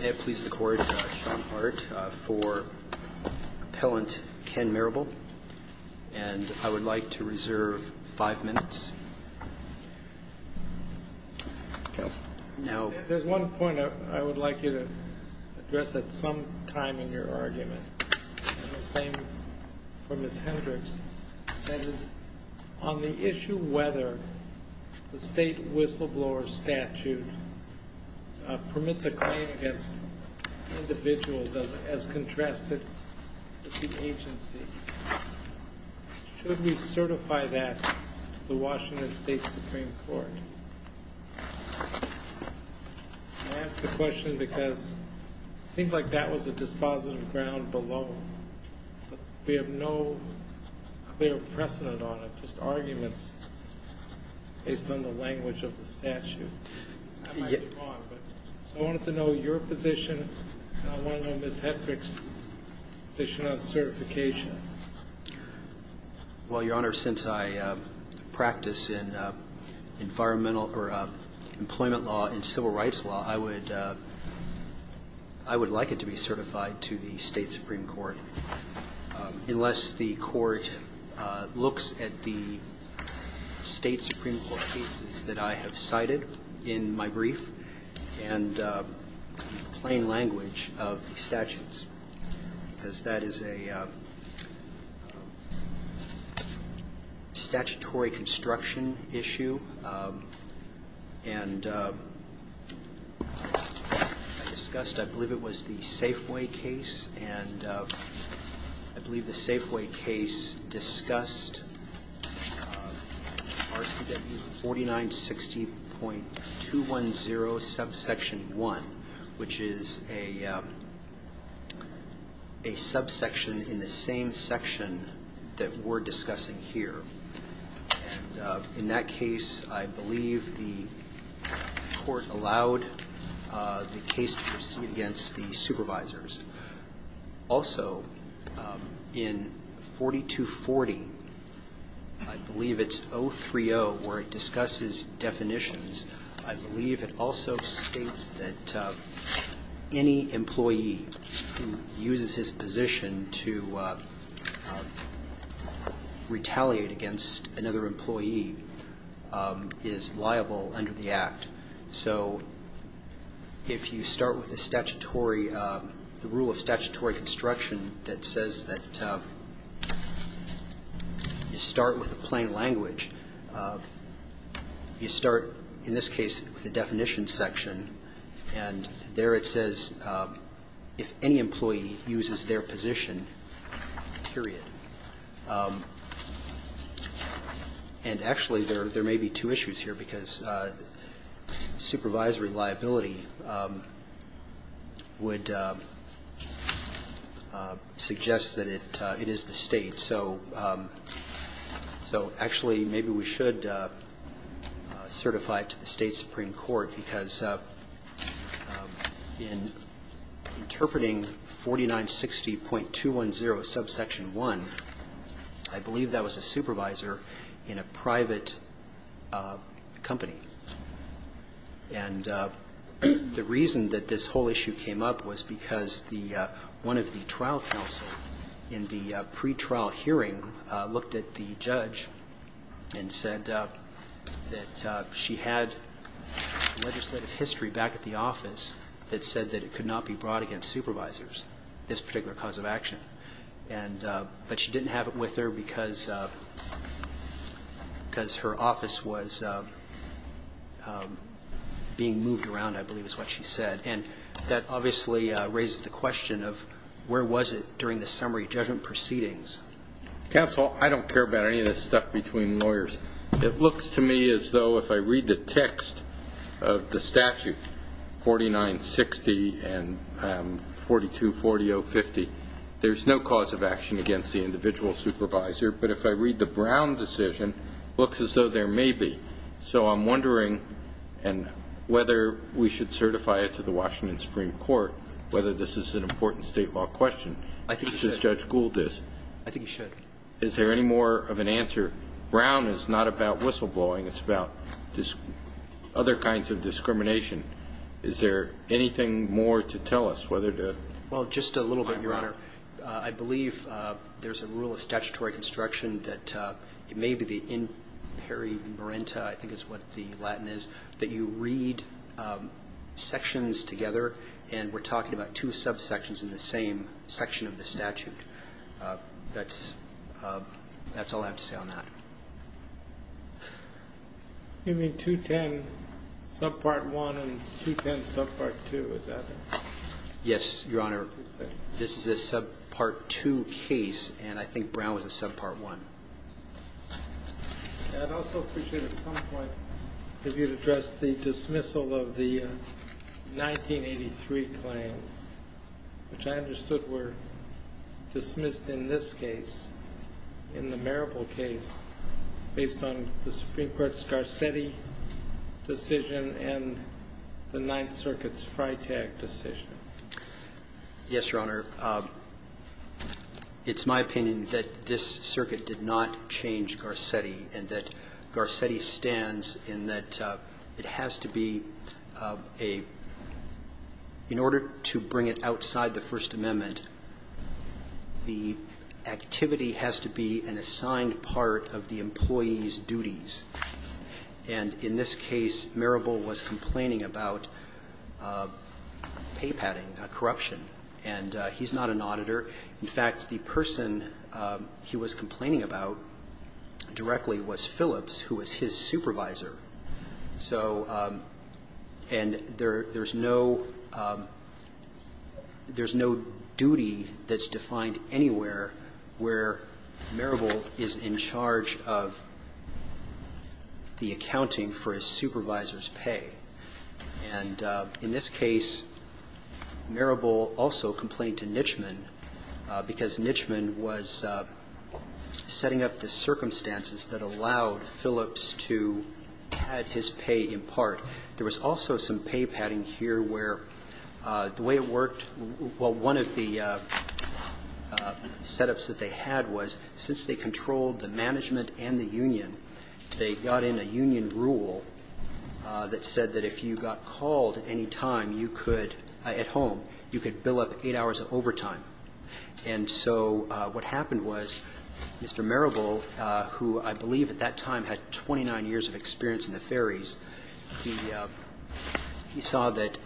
May it please the Court, Sean Hart for Appellant Ken Marable, and I would like to reserve five minutes. There's one point I would like you to address at some time in your argument. And the same for Ms. Hendricks. That is, on the issue whether the state whistleblower statute permits a claim against individuals as contrasted with the agency, should we certify that to the Washington State Supreme Court? I ask the question because it seems like that was a dispositive ground below. We have no clear precedent on it, just arguments based on the language of the statute. I might be wrong, but I wanted to know your position, and I want to know Ms. Hendricks' position on certification. Well, Your Honor, since I practice in environmental or employment law and civil rights law, I would like it to be certified to the State Supreme Court, unless the Court looks at the State Supreme Court cases that I have cited in my brief and plain language of the statutes. Because that is a statutory construction issue, and I discussed, I believe it was the Safeway case. And I believe the Safeway case discussed RCW 4960.210 subsection 1, which is a subsection in the same section that we're discussing here. And in that case, I believe the Court allowed the case to proceed against the supervisors. Also, in 4240, I believe it's 030, where it discusses definitions. I believe it also states that any employee who uses his position to retaliate against another employee is liable under the Act. So if you start with a statutory – the rule of statutory construction that says that you start with a plain language, you start, in this case, with a definition section, and there it says, if any employee uses their position, period. And actually, there may be two issues here, because supervisory liability would suggest that it is the State. So actually, maybe we should certify it to the State Supreme Court, because in interpreting 4960.210 subsection 1, I believe that was a supervisor in a private company. And the reason that this whole issue came up was because the – one of the trial counsel in the pretrial hearing looked at the judge and said that she had legislative history back at the office that said that it could not be brought against supervisors, this particular cause of action. And – but she didn't have it with her because her office was being moved around, I believe is what she said. And that obviously raises the question of where was it during the summary judgment proceedings. Counsel, I don't care about any of this stuff between lawyers. It looks to me as though if I read the text of the statute, 4960 and 4240.050, there's no cause of action against the individual supervisor. But if I read the Brown decision, it looks as though there may be. So I'm wondering, and whether we should certify it to the Washington Supreme Court, whether this is an important State law question. I think you should. Because Judge Gould is. I think you should. Is there any more of an answer? Brown is not about whistleblowing. It's about other kinds of discrimination. Is there anything more to tell us, whether to – Well, just a little bit, Your Honor. I believe there's a rule of statutory construction that it may be the in peri marenta, I think is what the Latin is, that you read sections together. And we're talking about two subsections in the same section of the statute. That's – that's all I have to say on that. You mean 210 subpart 1 and 210 subpart 2, is that it? Yes, Your Honor. This is a subpart 2 case, and I think Brown was a subpart 1. I'd also appreciate at some point if you'd address the dismissal of the 1983 claims, which I understood were dismissed in this case, in the Marable case, based on the Supreme Court's Garcetti decision and the Ninth Circuit's Freytag decision. Yes, Your Honor. It's my opinion that this circuit did not change Garcetti and that Garcetti stands in that it has to be a – in order to bring it outside the First Amendment, the activity has to be an assigned part of the employee's duties. And in this case, Marable was complaining about pay padding, corruption. And he's not an auditor. In fact, the person he was complaining about directly was Phillips, who was his supervisor. So – and there's no – there's no duty that's defined anywhere where Marable is in charge of the accounting for his supervisor's pay. And in this case, Marable also complained to Nitchman because Nitchman was setting up the circumstances that allowed Phillips to pad his pay in part. There was also some pay padding here where the way it worked – well, one of the setups that they had was since they controlled the management and the union, they got in a union rule that said that if you got called at any time, you could – at home, you could bill up eight hours of overtime. And so what happened was Mr. Marable, who I believe at that time had 29 years of experience in the ferries, he saw that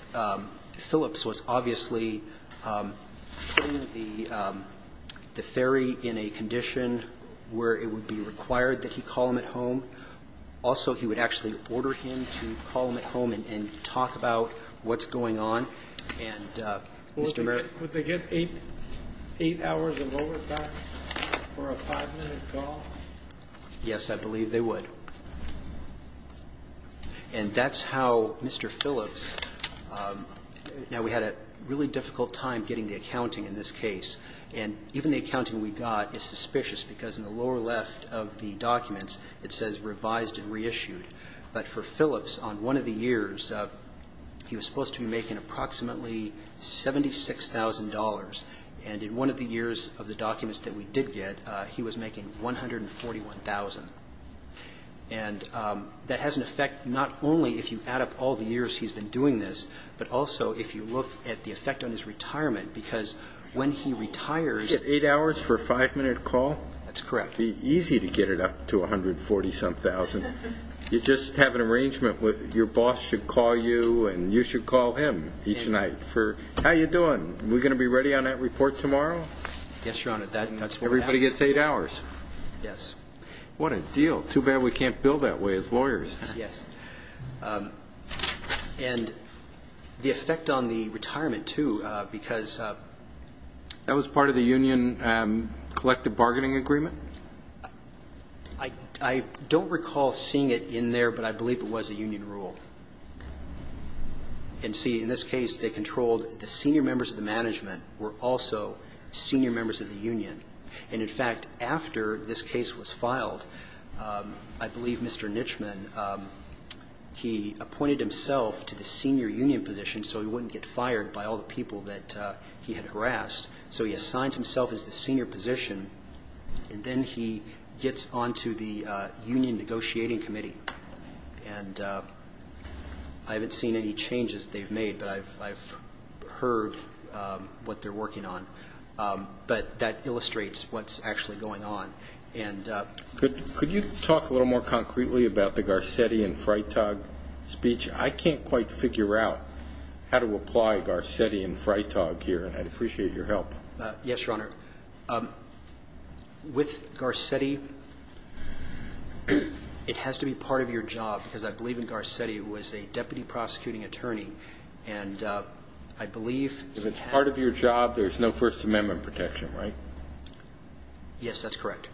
Phillips was obviously putting the ferry in a condition where it would be required that he call him at home. Also, he would actually order him to call him at home and talk about what's going on. And Mr. Marable – Would they get eight hours of overtime for a five-minute call? Yes, I believe they would. And that's how Mr. Phillips – now, we had a really difficult time getting the accounting in this case. And even the accounting we got is suspicious because in the lower left of the documents, it says revised and reissued. But for Phillips, on one of the years, he was supposed to be making approximately $76,000. And in one of the years of the documents that we did get, he was making $141,000. And that has an effect not only if you add up all the years he's been doing this, but also if you look at the effect on his retirement because when he retires – You get eight hours for a five-minute call? That's correct. It would be easy to get it up to $140,000. You just have an arrangement where your boss should call you and you should call him each night for, How are you doing? Are we going to be ready on that report tomorrow? Yes, Your Honor. Everybody gets eight hours? Yes. What a deal. Too bad we can't bill that way as lawyers. Yes. And the effect on the retirement, too, because – That was part of the union collective bargaining agreement? I don't recall seeing it in there, but I believe it was a union rule. And see, in this case, they controlled the senior members of the management were also senior members of the union. And, in fact, after this case was filed, I believe Mr. Nichman, he appointed himself to the senior union position so he wouldn't get fired by all the people that he had harassed. So he assigns himself as the senior position, and then he gets on to the union negotiating committee. And I haven't seen any changes they've made, but I've heard what they're working on. But that illustrates what's actually going on. Could you talk a little more concretely about the Garcetti and Freitag speech? I can't quite figure out how to apply Garcetti and Freitag here, and I'd appreciate your help. Yes, Your Honor. With Garcetti, it has to be part of your job, because I believe in Garcetti, it was a deputy prosecuting attorney, and I believe he had – If it's part of your job, there's no First Amendment protection, right? Yes, that's correct.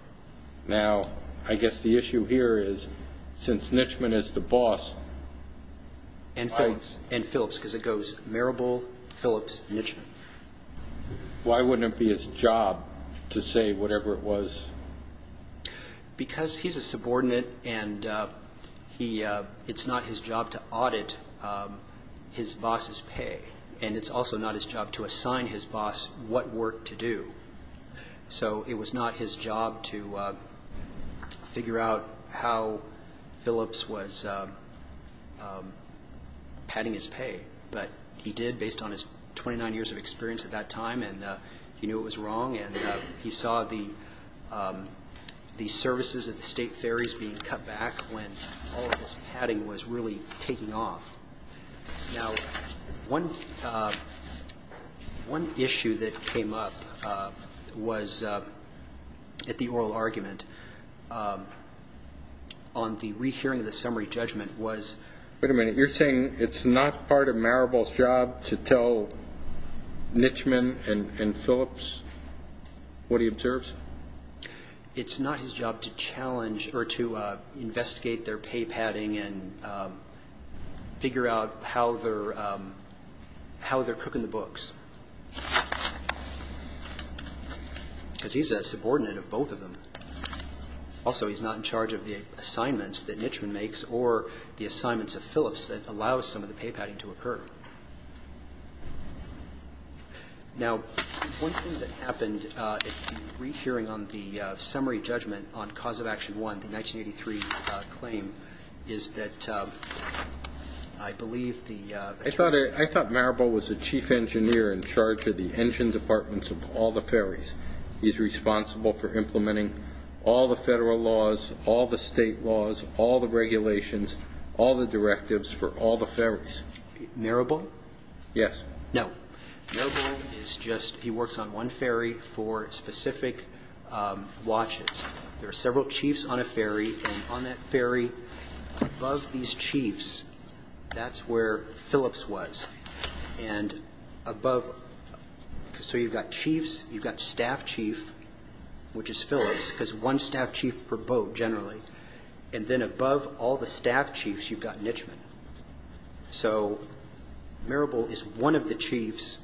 Now, I guess the issue here is, since Nichman is the boss – And Phillips, because it goes Marable, Phillips, Nichman. Why wouldn't it be his job to say whatever it was? Because he's a subordinate, and it's not his job to audit his boss's pay, and it's also not his job to assign his boss what work to do. So it was not his job to figure out how Phillips was padding his pay, but he did based on his 29 years of experience at that time, and he knew it was wrong, and he saw the services at the State Ferries being cut back when all of his padding was really taking off. Now, one issue that came up was at the oral argument on the rehearing of the summary judgment was – Was it Marable's job to tell Nichman and Phillips what he observes? It's not his job to challenge or to investigate their pay padding and figure out how they're cooking the books, because he's a subordinate of both of them. Also, he's not in charge of the assignments that Nichman makes or the assignments of Phillips that allow some of the pay padding to occur. Now, one thing that happened at the rehearing on the summary judgment on Cause of Action 1, the 1983 claim, is that I believe the attorney – I thought Marable was the chief engineer in charge of the engine departments of all the ferries. He's responsible for implementing all the federal laws, all the state laws, all the regulations, all the directives for all the ferries. Marable? Yes. No. Marable is just – he works on one ferry for specific watches. There are several chiefs on a ferry, and on that ferry, above these chiefs, that's where Phillips was. And above – so you've got chiefs, you've got staff chief, which is Phillips, because one staff chief per boat, generally, and then above all the staff chiefs, you've got Nichman. So Marable is one of the chiefs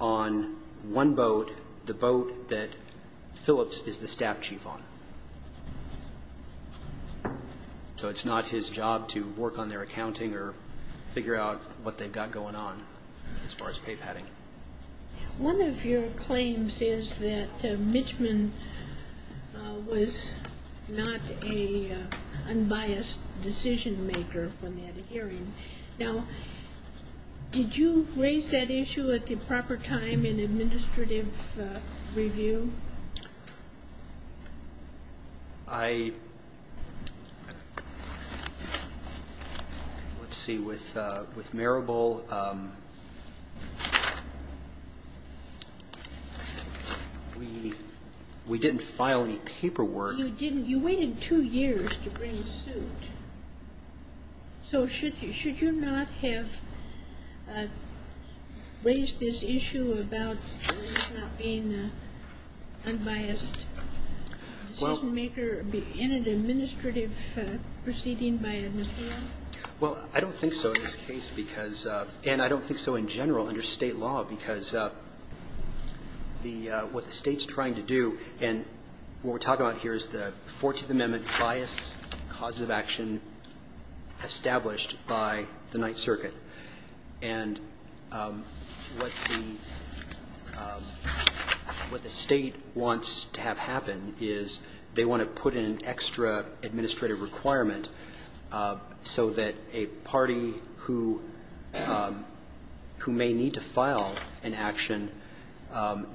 on one boat, the boat that Phillips is the staff chief on. So it's not his job to work on their accounting or figure out what they've got going on as far as pay padding. One of your claims is that Nichman was not an unbiased decision maker when they had a hearing. Now, did you raise that issue at the proper time in administrative review? I – let's see. With Marable, we didn't file any paperwork. You didn't. You waited two years to bring the suit. So should you – should you not have raised this issue about him not being an unbiased decision maker in an administrative proceeding by a NPR? Well, I don't think so in this case because – and I don't think so in general under State law because the – what the State's trying to do, and what we're talking about here is the Fourteenth Amendment bias, causes of action established by the Ninth Circuit. And what the – what the State wants to have happen is they want to put in an extra administrative requirement so that a party who – who may need to file an action,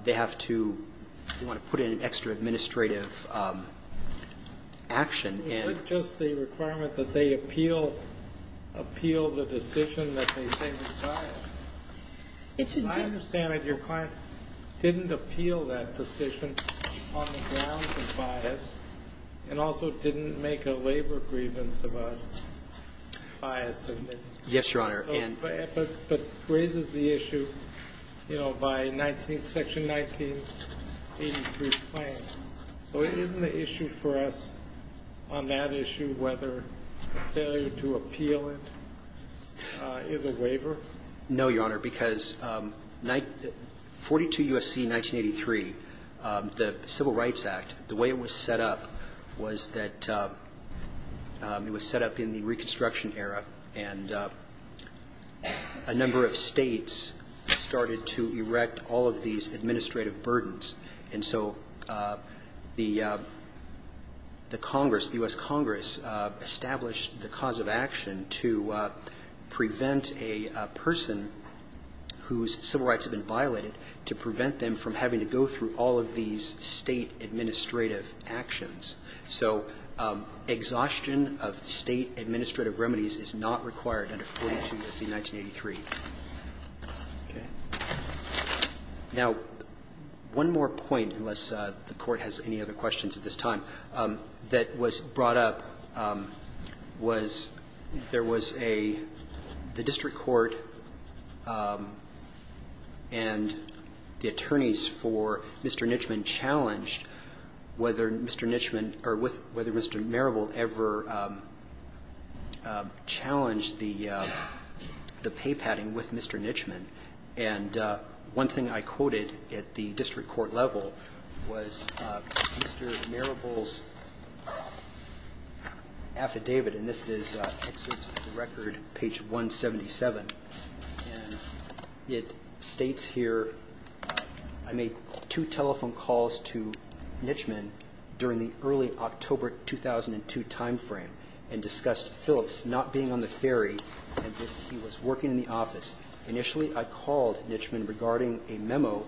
they have to – they want to put in an extra administrative action and – It's not just the requirement that they appeal – appeal the decision that they say was biased. It's a good – As I understand it, your client didn't appeal that decision on the grounds of bias and also didn't make a labor grievance about bias. Yes, Your Honor. But raises the issue, you know, by 19 – Section 1983 plan. So isn't the issue for us on that issue whether failure to appeal it is a waiver? No, Your Honor, because 42 U.S.C. 1983, the Civil Rights Act, the way it was set up was that it was set up in the Reconstruction Era, and a number of states started to erect all of these administrative burdens. And so the Congress, the U.S. Congress, established the cause of action to prevent a person whose civil rights had been violated, to prevent them from having to go through all of these state administrative actions. So exhaustion of state administrative remedies is not required under 42 U.S.C. 1983. Okay. Now, one more point, unless the Court has any other questions at this time, that was brought up was there was a – the district court and the attorneys for Mr. Nitchman challenged whether Mr. Nitchman or whether Mr. Marable ever challenged the pay padding with Mr. Nitchman. And one thing I quoted at the district court level was Mr. Marable's affidavit, and this is excerpts of the record, page 177. And it states here, I made two telephone calls to Nitchman during the early October 2002 timeframe and discussed Phillips not being on the ferry and that he was working in the office. Initially, I called Nitchman regarding a memo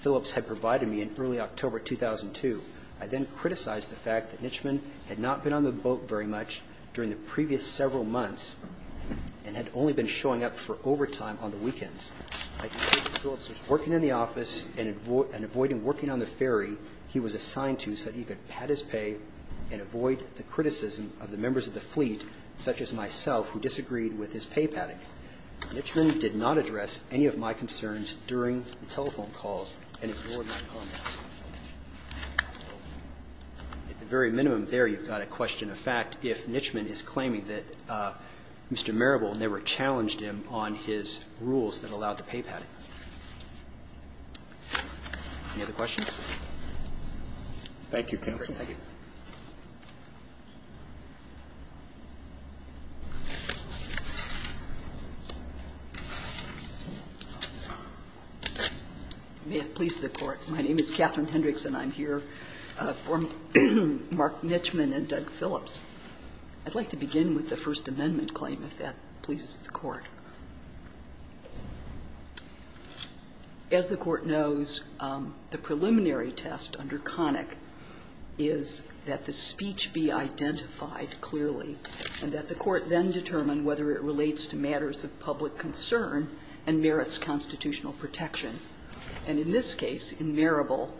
Phillips had provided me in early October 2002. I then criticized the fact that Nitchman had not been on the boat very much during the previous several months and had only been showing up for overtime on the weekends. I concluded that Phillips was working in the office and avoiding working on the ferry he was assigned to so that he could pad his pay and avoid the criticism of the members of the fleet, such as myself, who disagreed with his pay padding. Nitchman did not address any of my concerns during the telephone calls and ignored my comments. At the very minimum there, you've got a question of fact if Nitchman is claiming that Mr. Marable never challenged him on his rules that allowed the pay padding. Any other questions? Roberts. Thank you, counsel. Thank you. May it please the Court. My name is Catherine Hendricks, and I'm here for Mark Nitchman and Doug Phillips. I'd like to begin with the First Amendment claim, if that pleases the Court. As the Court knows, the preliminary test under Connick is that the speech be identified clearly and that the Court then determine whether it relates to matters of public concern and merits constitutional protection. And in this case, in Marable,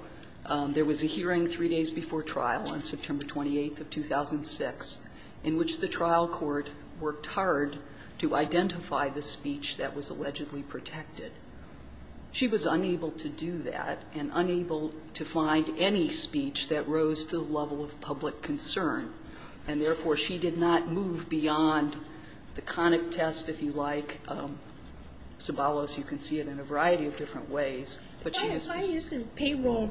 there was a hearing three days before trial on September 28th of 2006, in which the trial court worked hard to identify the speech that was allegedly protected. She was unable to do that and unable to find any speech that rose to the level of public concern, and therefore, she did not move beyond the Connick test, if you like. Sabalos, you can see it in a variety of different ways, but she has this. Well,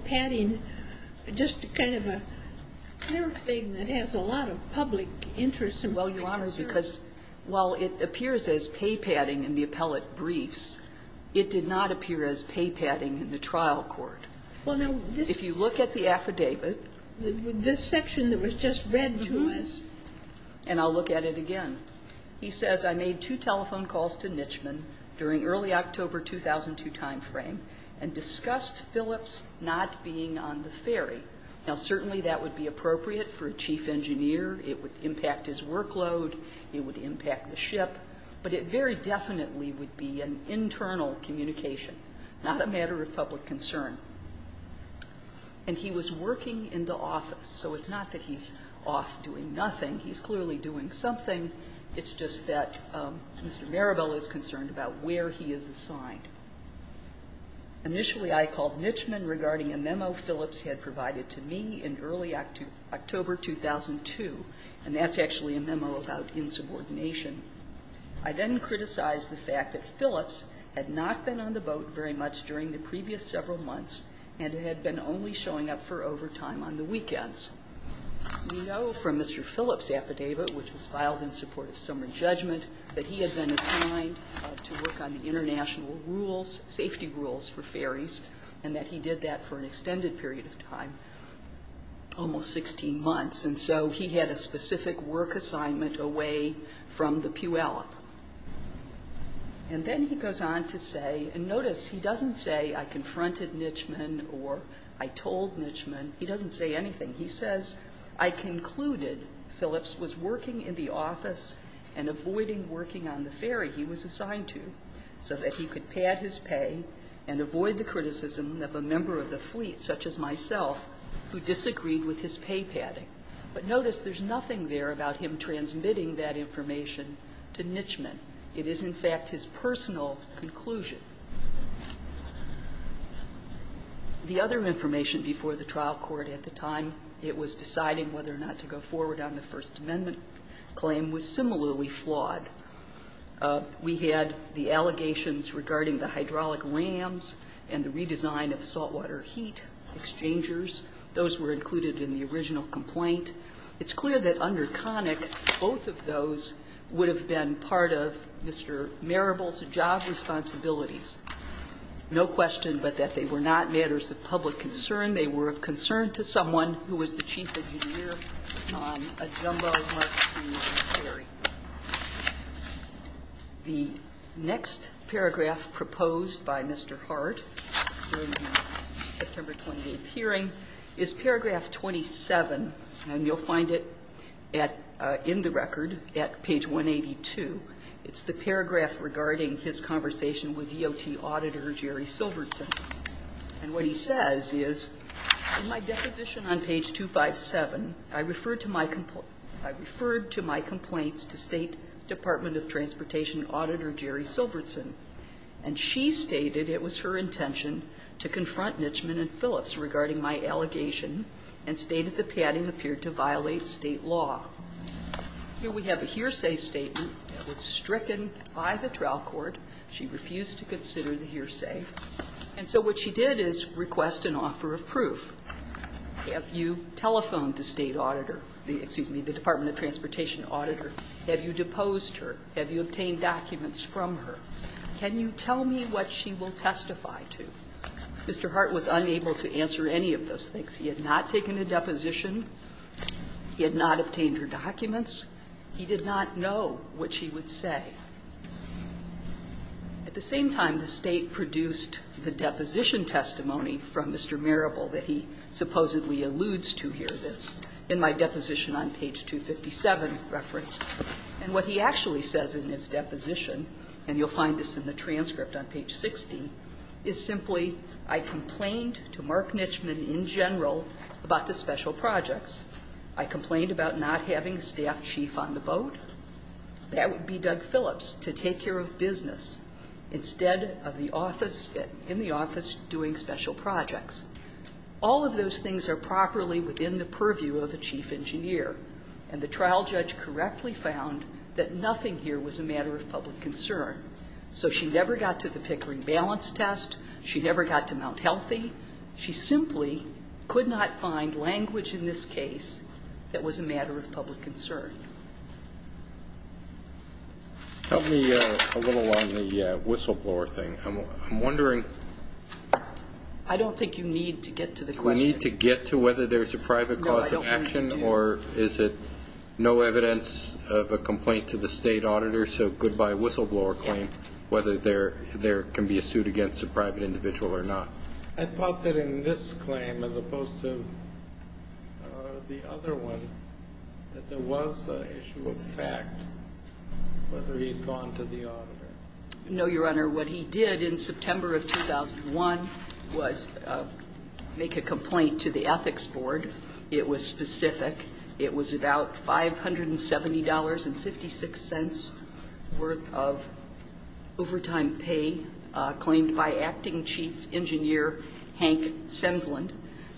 Your Honor, it's because while it appears as pay padding in the appellate briefs, it did not appear as pay padding in the trial court. If you look at the affidavit. This section that was just read to us. And I'll look at it again. He says, I made two telephone calls to Nitchman during early October 2002 timeframe and discussed Phillips not being on the ferry. Now, certainly that would be appropriate for a chief engineer. It would impact his workload. It would impact the ship. But it very definitely would be an internal communication, not a matter of public concern. And he was working in the office. So it's not that he's off doing nothing. He's clearly doing something. It's just that Mr. Marable is concerned about where he is assigned. Initially, I called Nitchman regarding a memo Phillips had provided to me in early October 2002, and that's actually a memo about insubordination. I then criticized the fact that Phillips had not been on the boat very much during the previous several months and had been only showing up for overtime on the weekends. We know from Mr. Phillips' affidavit, which was filed in support of summary judgment, that he had been assigned to work on the international rules, safety rules for ferries, and that he did that for an extended period of time, almost 16 months. And so he had a specific work assignment away from the Puyallup. And then he goes on to say, and notice he doesn't say, I confronted Nitchman or I told Nitchman. He doesn't say anything. He says, I concluded Phillips was working in the office and avoiding working on the ferry he was assigned to so that he could pad his pay and avoid the criticism of a member of the fleet, such as myself, who disagreed with his pay padding. But notice there's nothing there about him transmitting that information to Nitchman. It is, in fact, his personal conclusion. The other information before the trial court at the time, it was deciding whether or not to go forward on the First Amendment claim, was similarly flawed. We had the allegations regarding the hydraulic lambs and the redesign of saltwater heat exchangers. Those were included in the original complaint. It's clear that under Connick, both of those would have been part of Mr. Marable's job responsibilities. No question, but that they were not matters of public concern. They were of concern to someone who was the chief engineer on a jumbo-marked commercial ferry. The next paragraph proposed by Mr. Hart during the September 28th hearing is paragraph 27, and you'll find it in the record at page 182. It's the paragraph regarding his conversation with DOT Auditor Jerry Silbertson. And what he says is, in my deposition on page 257, I referred to my complaint to State Department of Transportation Auditor Jerry Silbertson, and she stated it was her intention to confront Nitchman and Phillips regarding my allegation and stated the padding appeared to violate State law. Here we have a hearsay statement that was stricken by the trial court. She refused to consider the hearsay. And so what she did is request an offer of proof. Have you telephoned the State auditor, excuse me, the Department of Transportation auditor? Have you deposed her? Have you obtained documents from her? Can you tell me what she will testify to? Mr. Hart was unable to answer any of those things. He had not taken a deposition. He had not obtained her documents. He did not know what she would say. At the same time, the State produced the deposition testimony from Mr. Marable that he supposedly alludes to here, this, in my deposition on page 257 reference. And what he actually says in his deposition, and you'll find this in the transcript on page 60, is simply, I complained to Mark Nitchman in general about the special projects. I complained about not having a staff chief on the boat. That would be Doug Phillips, to take care of business instead of the office, in the office doing special projects. All of those things are properly within the purview of a chief engineer. And the trial judge correctly found that nothing here was a matter of public concern. So she never got to the Pickering balance test. She never got to Mount Healthy. She simply could not find language in this case that was a matter of public concern. Help me a little on the whistleblower thing. I'm wondering. I don't think you need to get to the question. Do we need to get to whether there's a private cause of action, or is it no evidence of a complaint to the State auditor, so goodbye whistleblower claim, whether there can be a suit against a private individual or not? I thought that in this claim, as opposed to the other one, that there was an issue of fact, whether he had gone to the auditor. No, Your Honor. What he did in September of 2001 was make a complaint to the Ethics Board. It was specific. It was about $570.56 worth of overtime pay claimed by acting chief engineers Hank Semsland.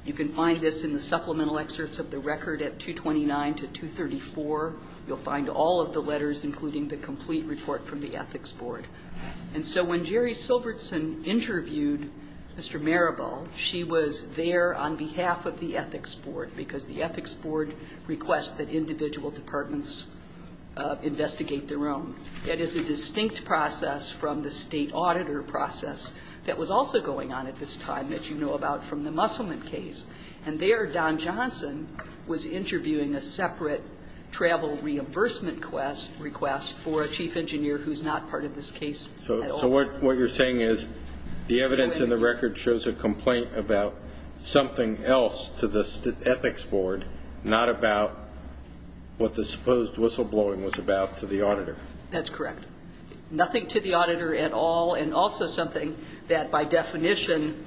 You can find this in the supplemental excerpts of the record at 229 to 234. You'll find all of the letters, including the complete report from the Ethics Board. And so when Jerry Silbertson interviewed Mr. Marabal, she was there on behalf of the Ethics Board, because the Ethics Board requests that individual departments investigate their own. That is a distinct process from the State auditor process that was also going on at this time that you know about from the Musselman case. And there, Don Johnson was interviewing a separate travel reimbursement request for a chief engineer who's not part of this case at all. So what you're saying is the evidence in the record shows a complaint about something else to the Ethics Board, not about what the supposed whistleblowing was about to the auditor. That's correct. Nothing to the auditor at all, and also something that, by definition,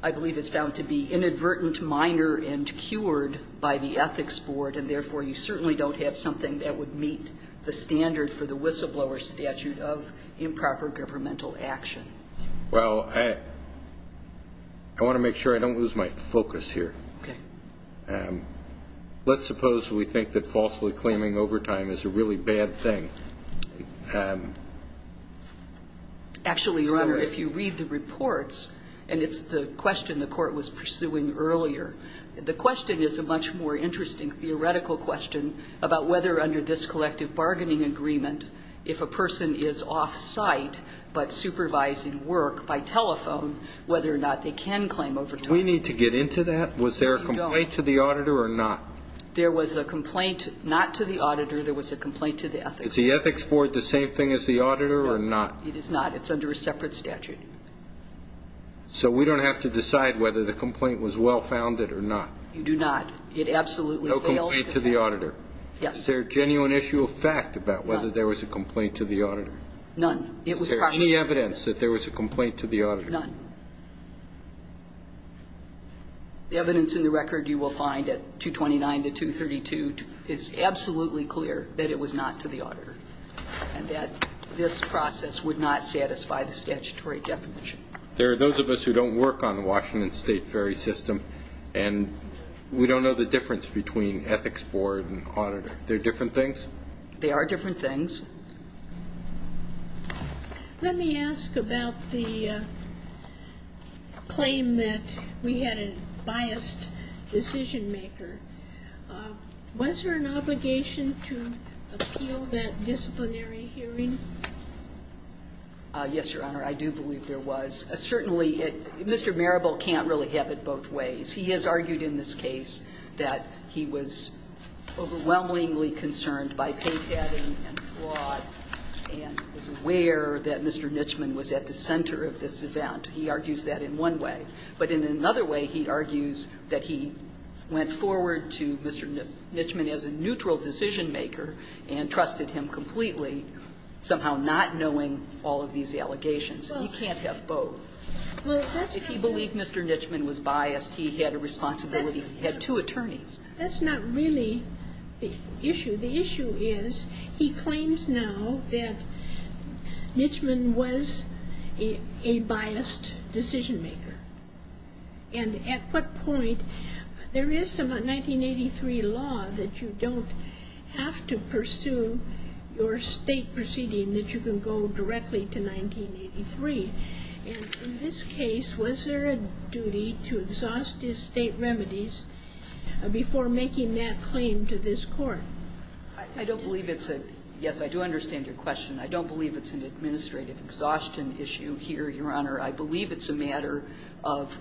I believe it's found to be inadvertent, minor, and cured by the Ethics Board, and therefore you certainly don't have something that would meet the standard for the whistleblower statute of improper governmental action. Well, I want to make sure I don't lose my focus here. Okay. Let's suppose we think that falsely claiming overtime is a really bad thing. Actually, Your Honor, if you read the reports, and it's the question the court was pursuing earlier, the question is a much more interesting theoretical question about whether under this collective bargaining agreement, if a person is off-site but supervising work by telephone, whether or not they can claim overtime. Do we need to get into that? No, you don't. Was there a complaint to the auditor or not? There was a complaint not to the auditor. There was a complaint to the Ethics Board. Is the Ethics Board the same thing as the auditor or not? No, it is not. It's under a separate statute. So we don't have to decide whether the complaint was well-founded or not. You do not. It absolutely failed. No complaint to the auditor. Yes. Is there a genuine issue of fact about whether there was a complaint to the auditor? None. Is there any evidence that there was a complaint to the auditor? None. The evidence in the record you will find at 229 to 232 is absolutely clear that it was not to the auditor and that this process would not satisfy the statutory definition. There are those of us who don't work on the Washington State Ferry System, and we don't know the difference between Ethics Board and auditor. They're different things? They are different things. Let me ask about the claim that we had a biased decision-maker. Was there an obligation to appeal that disciplinary hearing? Yes, Your Honor. I do believe there was. Certainly, Mr. Marable can't really have it both ways. He has argued in this case that he was overwhelmingly concerned by paytabbing and fraud and was aware that Mr. Nitchman was at the center of this event. He argues that in one way. But in another way, he argues that he went forward to Mr. Nitchman as a neutral decision-maker and trusted him completely, somehow not knowing all of these allegations. He can't have both. If he believed Mr. Nitchman was biased, he had a responsibility. He had two attorneys. That's not really the issue. The issue is he claims now that Nitchman was a biased decision-maker. And at what point? There is some 1983 law that you don't have to pursue your State proceeding that you can go directly to 1983. And in this case, was there a duty to exhaust his State remedies before making that claim to this Court? I don't believe it's a – yes, I do understand your question. I don't believe it's an administrative exhaustion issue here, Your Honor. I believe it's a matter of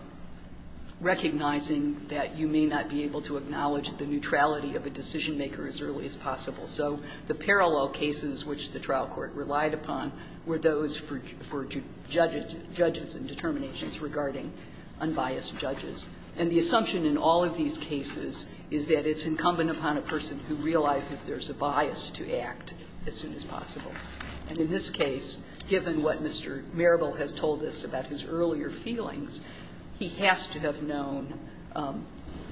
recognizing that you may not be able to acknowledge the neutrality of a decision-maker as early as possible. So the parallel cases which the trial court relied upon were those for judges and determinations regarding unbiased judges. And the assumption in all of these cases is that it's incumbent upon a person who realizes there's a bias to act as soon as possible. And in this case, given what Mr. Marable has told us about his earlier feelings, he has to have known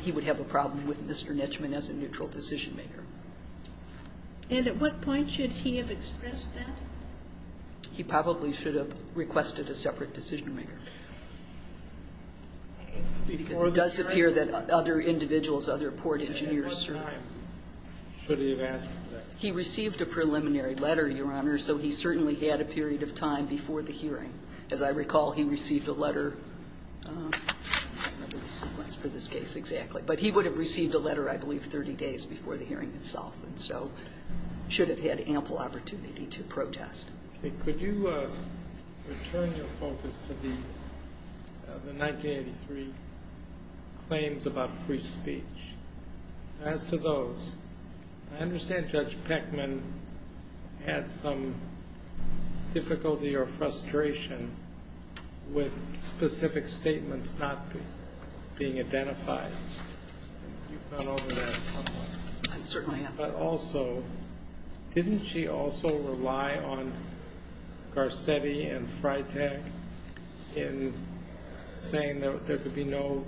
he would have a problem with Mr. Nitchman as a neutral decision-maker. And at what point should he have expressed that? He probably should have requested a separate decision-maker. Because it does appear that other individuals, other port engineers served. At what time should he have asked for that? He received a preliminary letter, Your Honor, so he certainly had a period of time before the hearing. As I recall, he received a letter. I don't remember the sequence for this case exactly. But he would have received a letter, I believe, 30 days before the hearing itself. And so he should have had ample opportunity to protest. Could you return your focus to the 1983 claims about free speech? As to those, I understand Judge Peckman had some difficulty or frustration with specific statements not being identified. You've gone over that somewhat. I certainly have. But also, didn't she also rely on Garcetti and Freitag in saying that there could be no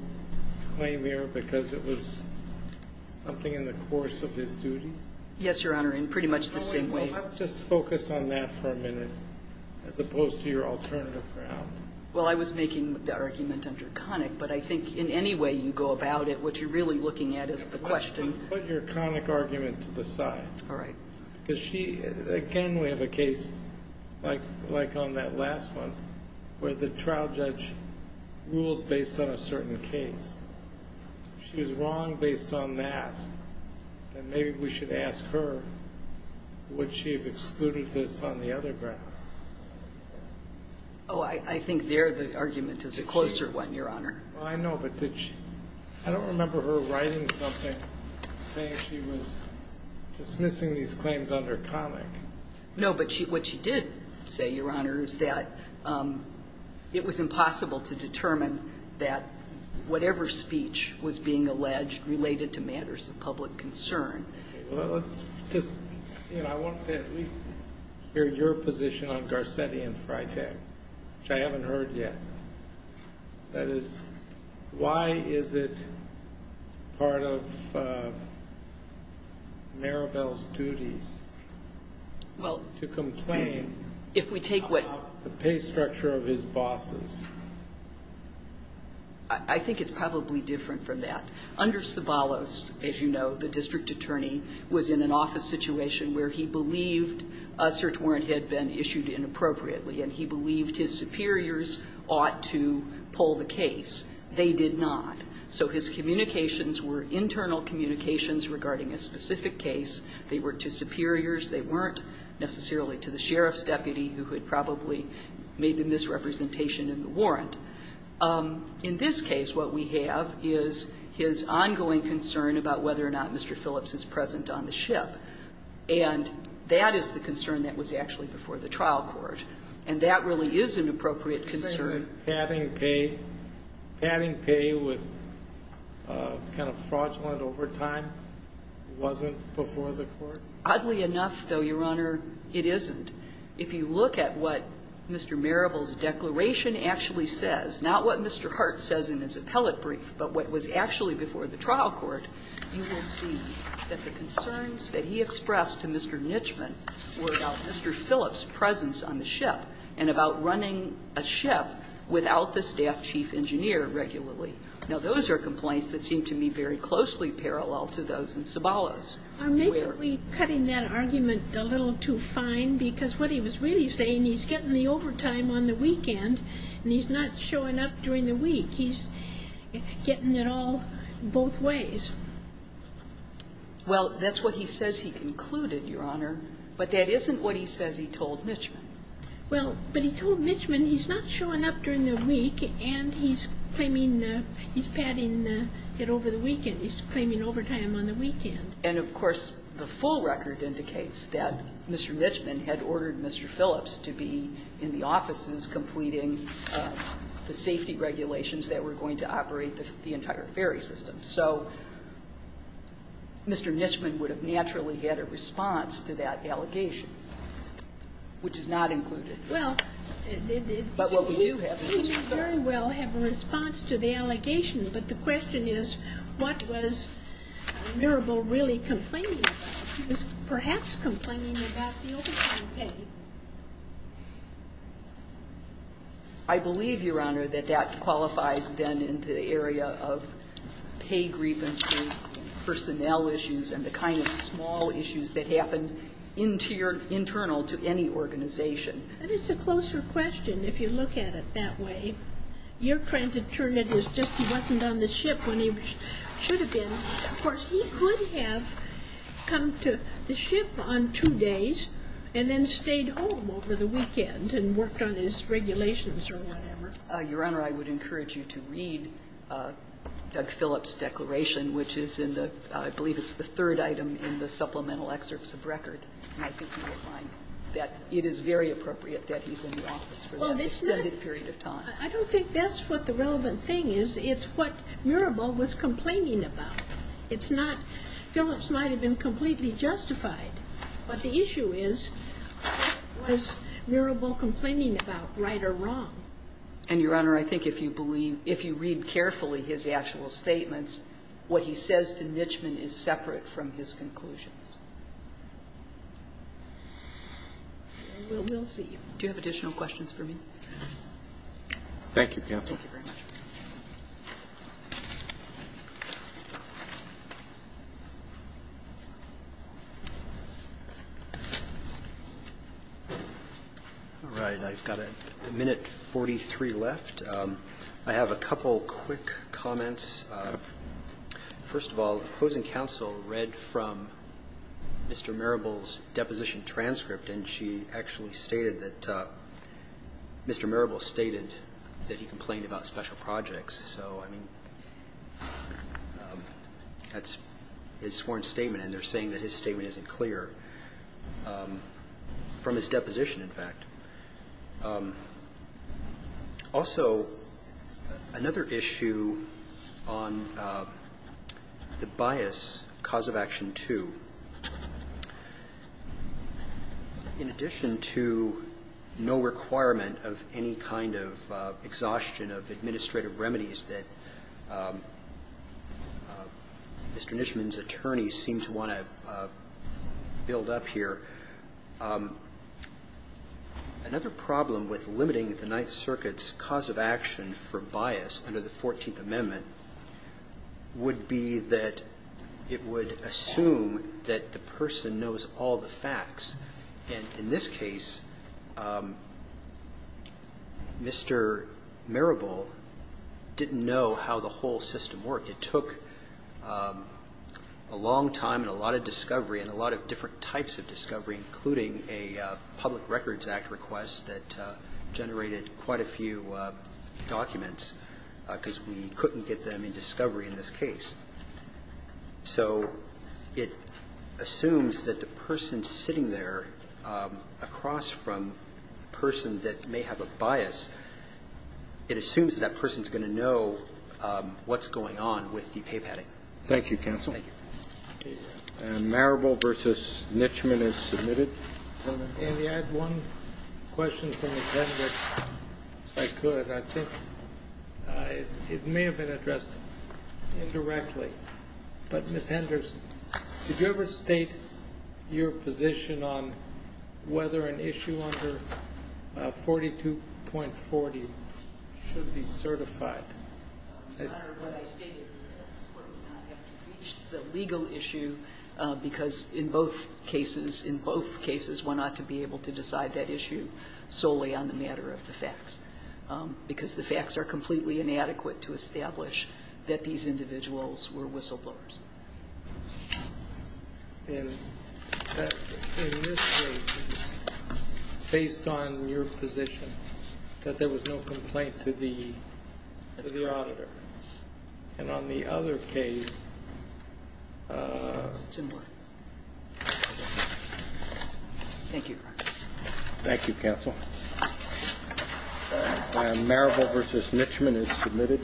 claim here because it was something in the course of his duties? Yes, Your Honor, in pretty much the same way. Well, let's just focus on that for a minute as opposed to your alternative ground. Well, I was making the argument under Connick. But I think in any way you go about it, what you're really looking at is the question. Put your Connick argument to the side. All right. Because she, again, we have a case like on that last one where the trial judge ruled based on a certain case. If she was wrong based on that, then maybe we should ask her would she have excluded this on the other ground? Oh, I think there the argument is a closer one, Your Honor. Well, I know. But did she – I don't remember her writing something saying she was dismissing these claims under Connick. No, but what she did say, Your Honor, is that it was impossible to determine that whatever speech was being alleged related to matters of public concern. Well, let's just – you know, I want to at least hear your position on Garcetti and Freitag, which I haven't heard yet. That is, why is it part of Maribel's duties to complain about the pay structure of his bosses? I think it's probably different from that. Under Sabalos, as you know, the district attorney was in an office situation where he believed a search warrant had been issued inappropriately, and he believed his superiors ought to pull the case. They did not. So his communications were internal communications regarding a specific case. They were to superiors. They weren't necessarily to the sheriff's deputy who had probably made the misrepresentation in the warrant. In this case, what we have is his ongoing concern about whether or not Mr. Phillips is present on the ship. And that is the concern that was actually before the trial court. And that really is an appropriate concern. You say that padding pay – padding pay with kind of fraudulent overtime wasn't before the court? Oddly enough, though, Your Honor, it isn't. If you look at what Mr. Maribel's declaration actually says, not what Mr. Hart says in his appellate brief, but what was actually before the trial court, you will see that the concerns that he expressed to Mr. Nitchman were about Mr. Phillips' presence on the ship and about running a ship without the staff chief engineer regularly. Now, those are complaints that seem to me very closely parallel to those in Sabalos. Maybe we're cutting that argument a little too fine because what he was really saying, he's getting the overtime on the weekend and he's not showing up during the week. He's getting it all both ways. Well, that's what he says he concluded, Your Honor, but that isn't what he says he told Nitchman. Well, but he told Nitchman he's not showing up during the week and he's claiming – he's padding it over the weekend. He's claiming overtime on the weekend. And, of course, the full record indicates that Mr. Nitchman had ordered Mr. Phillips to be in the offices completing the safety regulations that were going to operate the entire ferry system. So Mr. Nitchman would have naturally had a response to that allegation, which is not included. But what we do have is Mr. Phillips. He would very well have a response to the allegation, but the question is what was Mirabal really complaining about? He was perhaps complaining about the overtime pay. I believe, Your Honor, that that qualifies then in the area of pay grievances, personnel issues, and the kind of small issues that happened internal to any organization. And it's a closer question, if you look at it that way. You're trying to turn it as just he wasn't on the ship when he should have been. Of course, he could have come to the ship on two days and then stayed home over the weekend and worked on his regulations or whatever. Your Honor, I would encourage you to read Doug Phillips' declaration, which is in the – I believe it's the third item in the supplemental excerpts of record. And I think you will find that it is very appropriate that he's in the office for that extended period of time. I don't think that's what the relevant thing is. It's what Mirabal was complaining about. It's not – Phillips might have been completely justified, but the issue is what was Mirabal complaining about, right or wrong? And, Your Honor, I think if you believe – if you read carefully his actual statements, what he says to Nitchman is separate from his conclusions. And we'll see. Do you have additional questions for me? Thank you, counsel. Thank you very much. All right. I've got a minute 43 left. I have a couple quick comments. First of all, opposing counsel read from Mr. Mirabal's deposition transcript and she actually stated that Mr. Mirabal stated that he complained about special projects. So, I mean, that's his sworn statement and they're saying that his statement is not correct. Also, another issue on the bias, cause of action 2, in addition to no requirement of any kind of exhaustion of administrative remedies that Mr. Nitchman's attorneys seem to want to build up here, I think it's important to understand that there's Another problem with limiting the Ninth Circuit's cause of action for bias under the Fourteenth Amendment would be that it would assume that the person knows all the facts. And in this case, Mr. Mirabal didn't know how the whole system worked. It took a long time and a lot of discovery and a lot of different types of discovery, including a Public Records Act request that generated quite a few documents because we couldn't get them in discovery in this case. So it assumes that the person sitting there across from the person that may have a bias, it assumes that that person's going to know what's going on with the pay padding. Thank you, counsel. Thank you. Mirabal v. Nitchman is submitted. If I could, I think it may have been addressed indirectly. But, Ms. Henderson, did you ever state your position on whether an issue under 42.40 should be certified? Your Honor, what I stated is that this Court would not have to reach the legal issue because in both cases, in both cases, we're not to be able to decide that issue solely on the matter of the facts, because the facts are completely inadequate to establish that these individuals were whistleblowers. And in this case, it's based on your position that there was no complaint to the auditor. And on the other case... It's in writing. Thank you, Your Honor. Thank you, counsel. Mirabal v. Nitchman is submitted.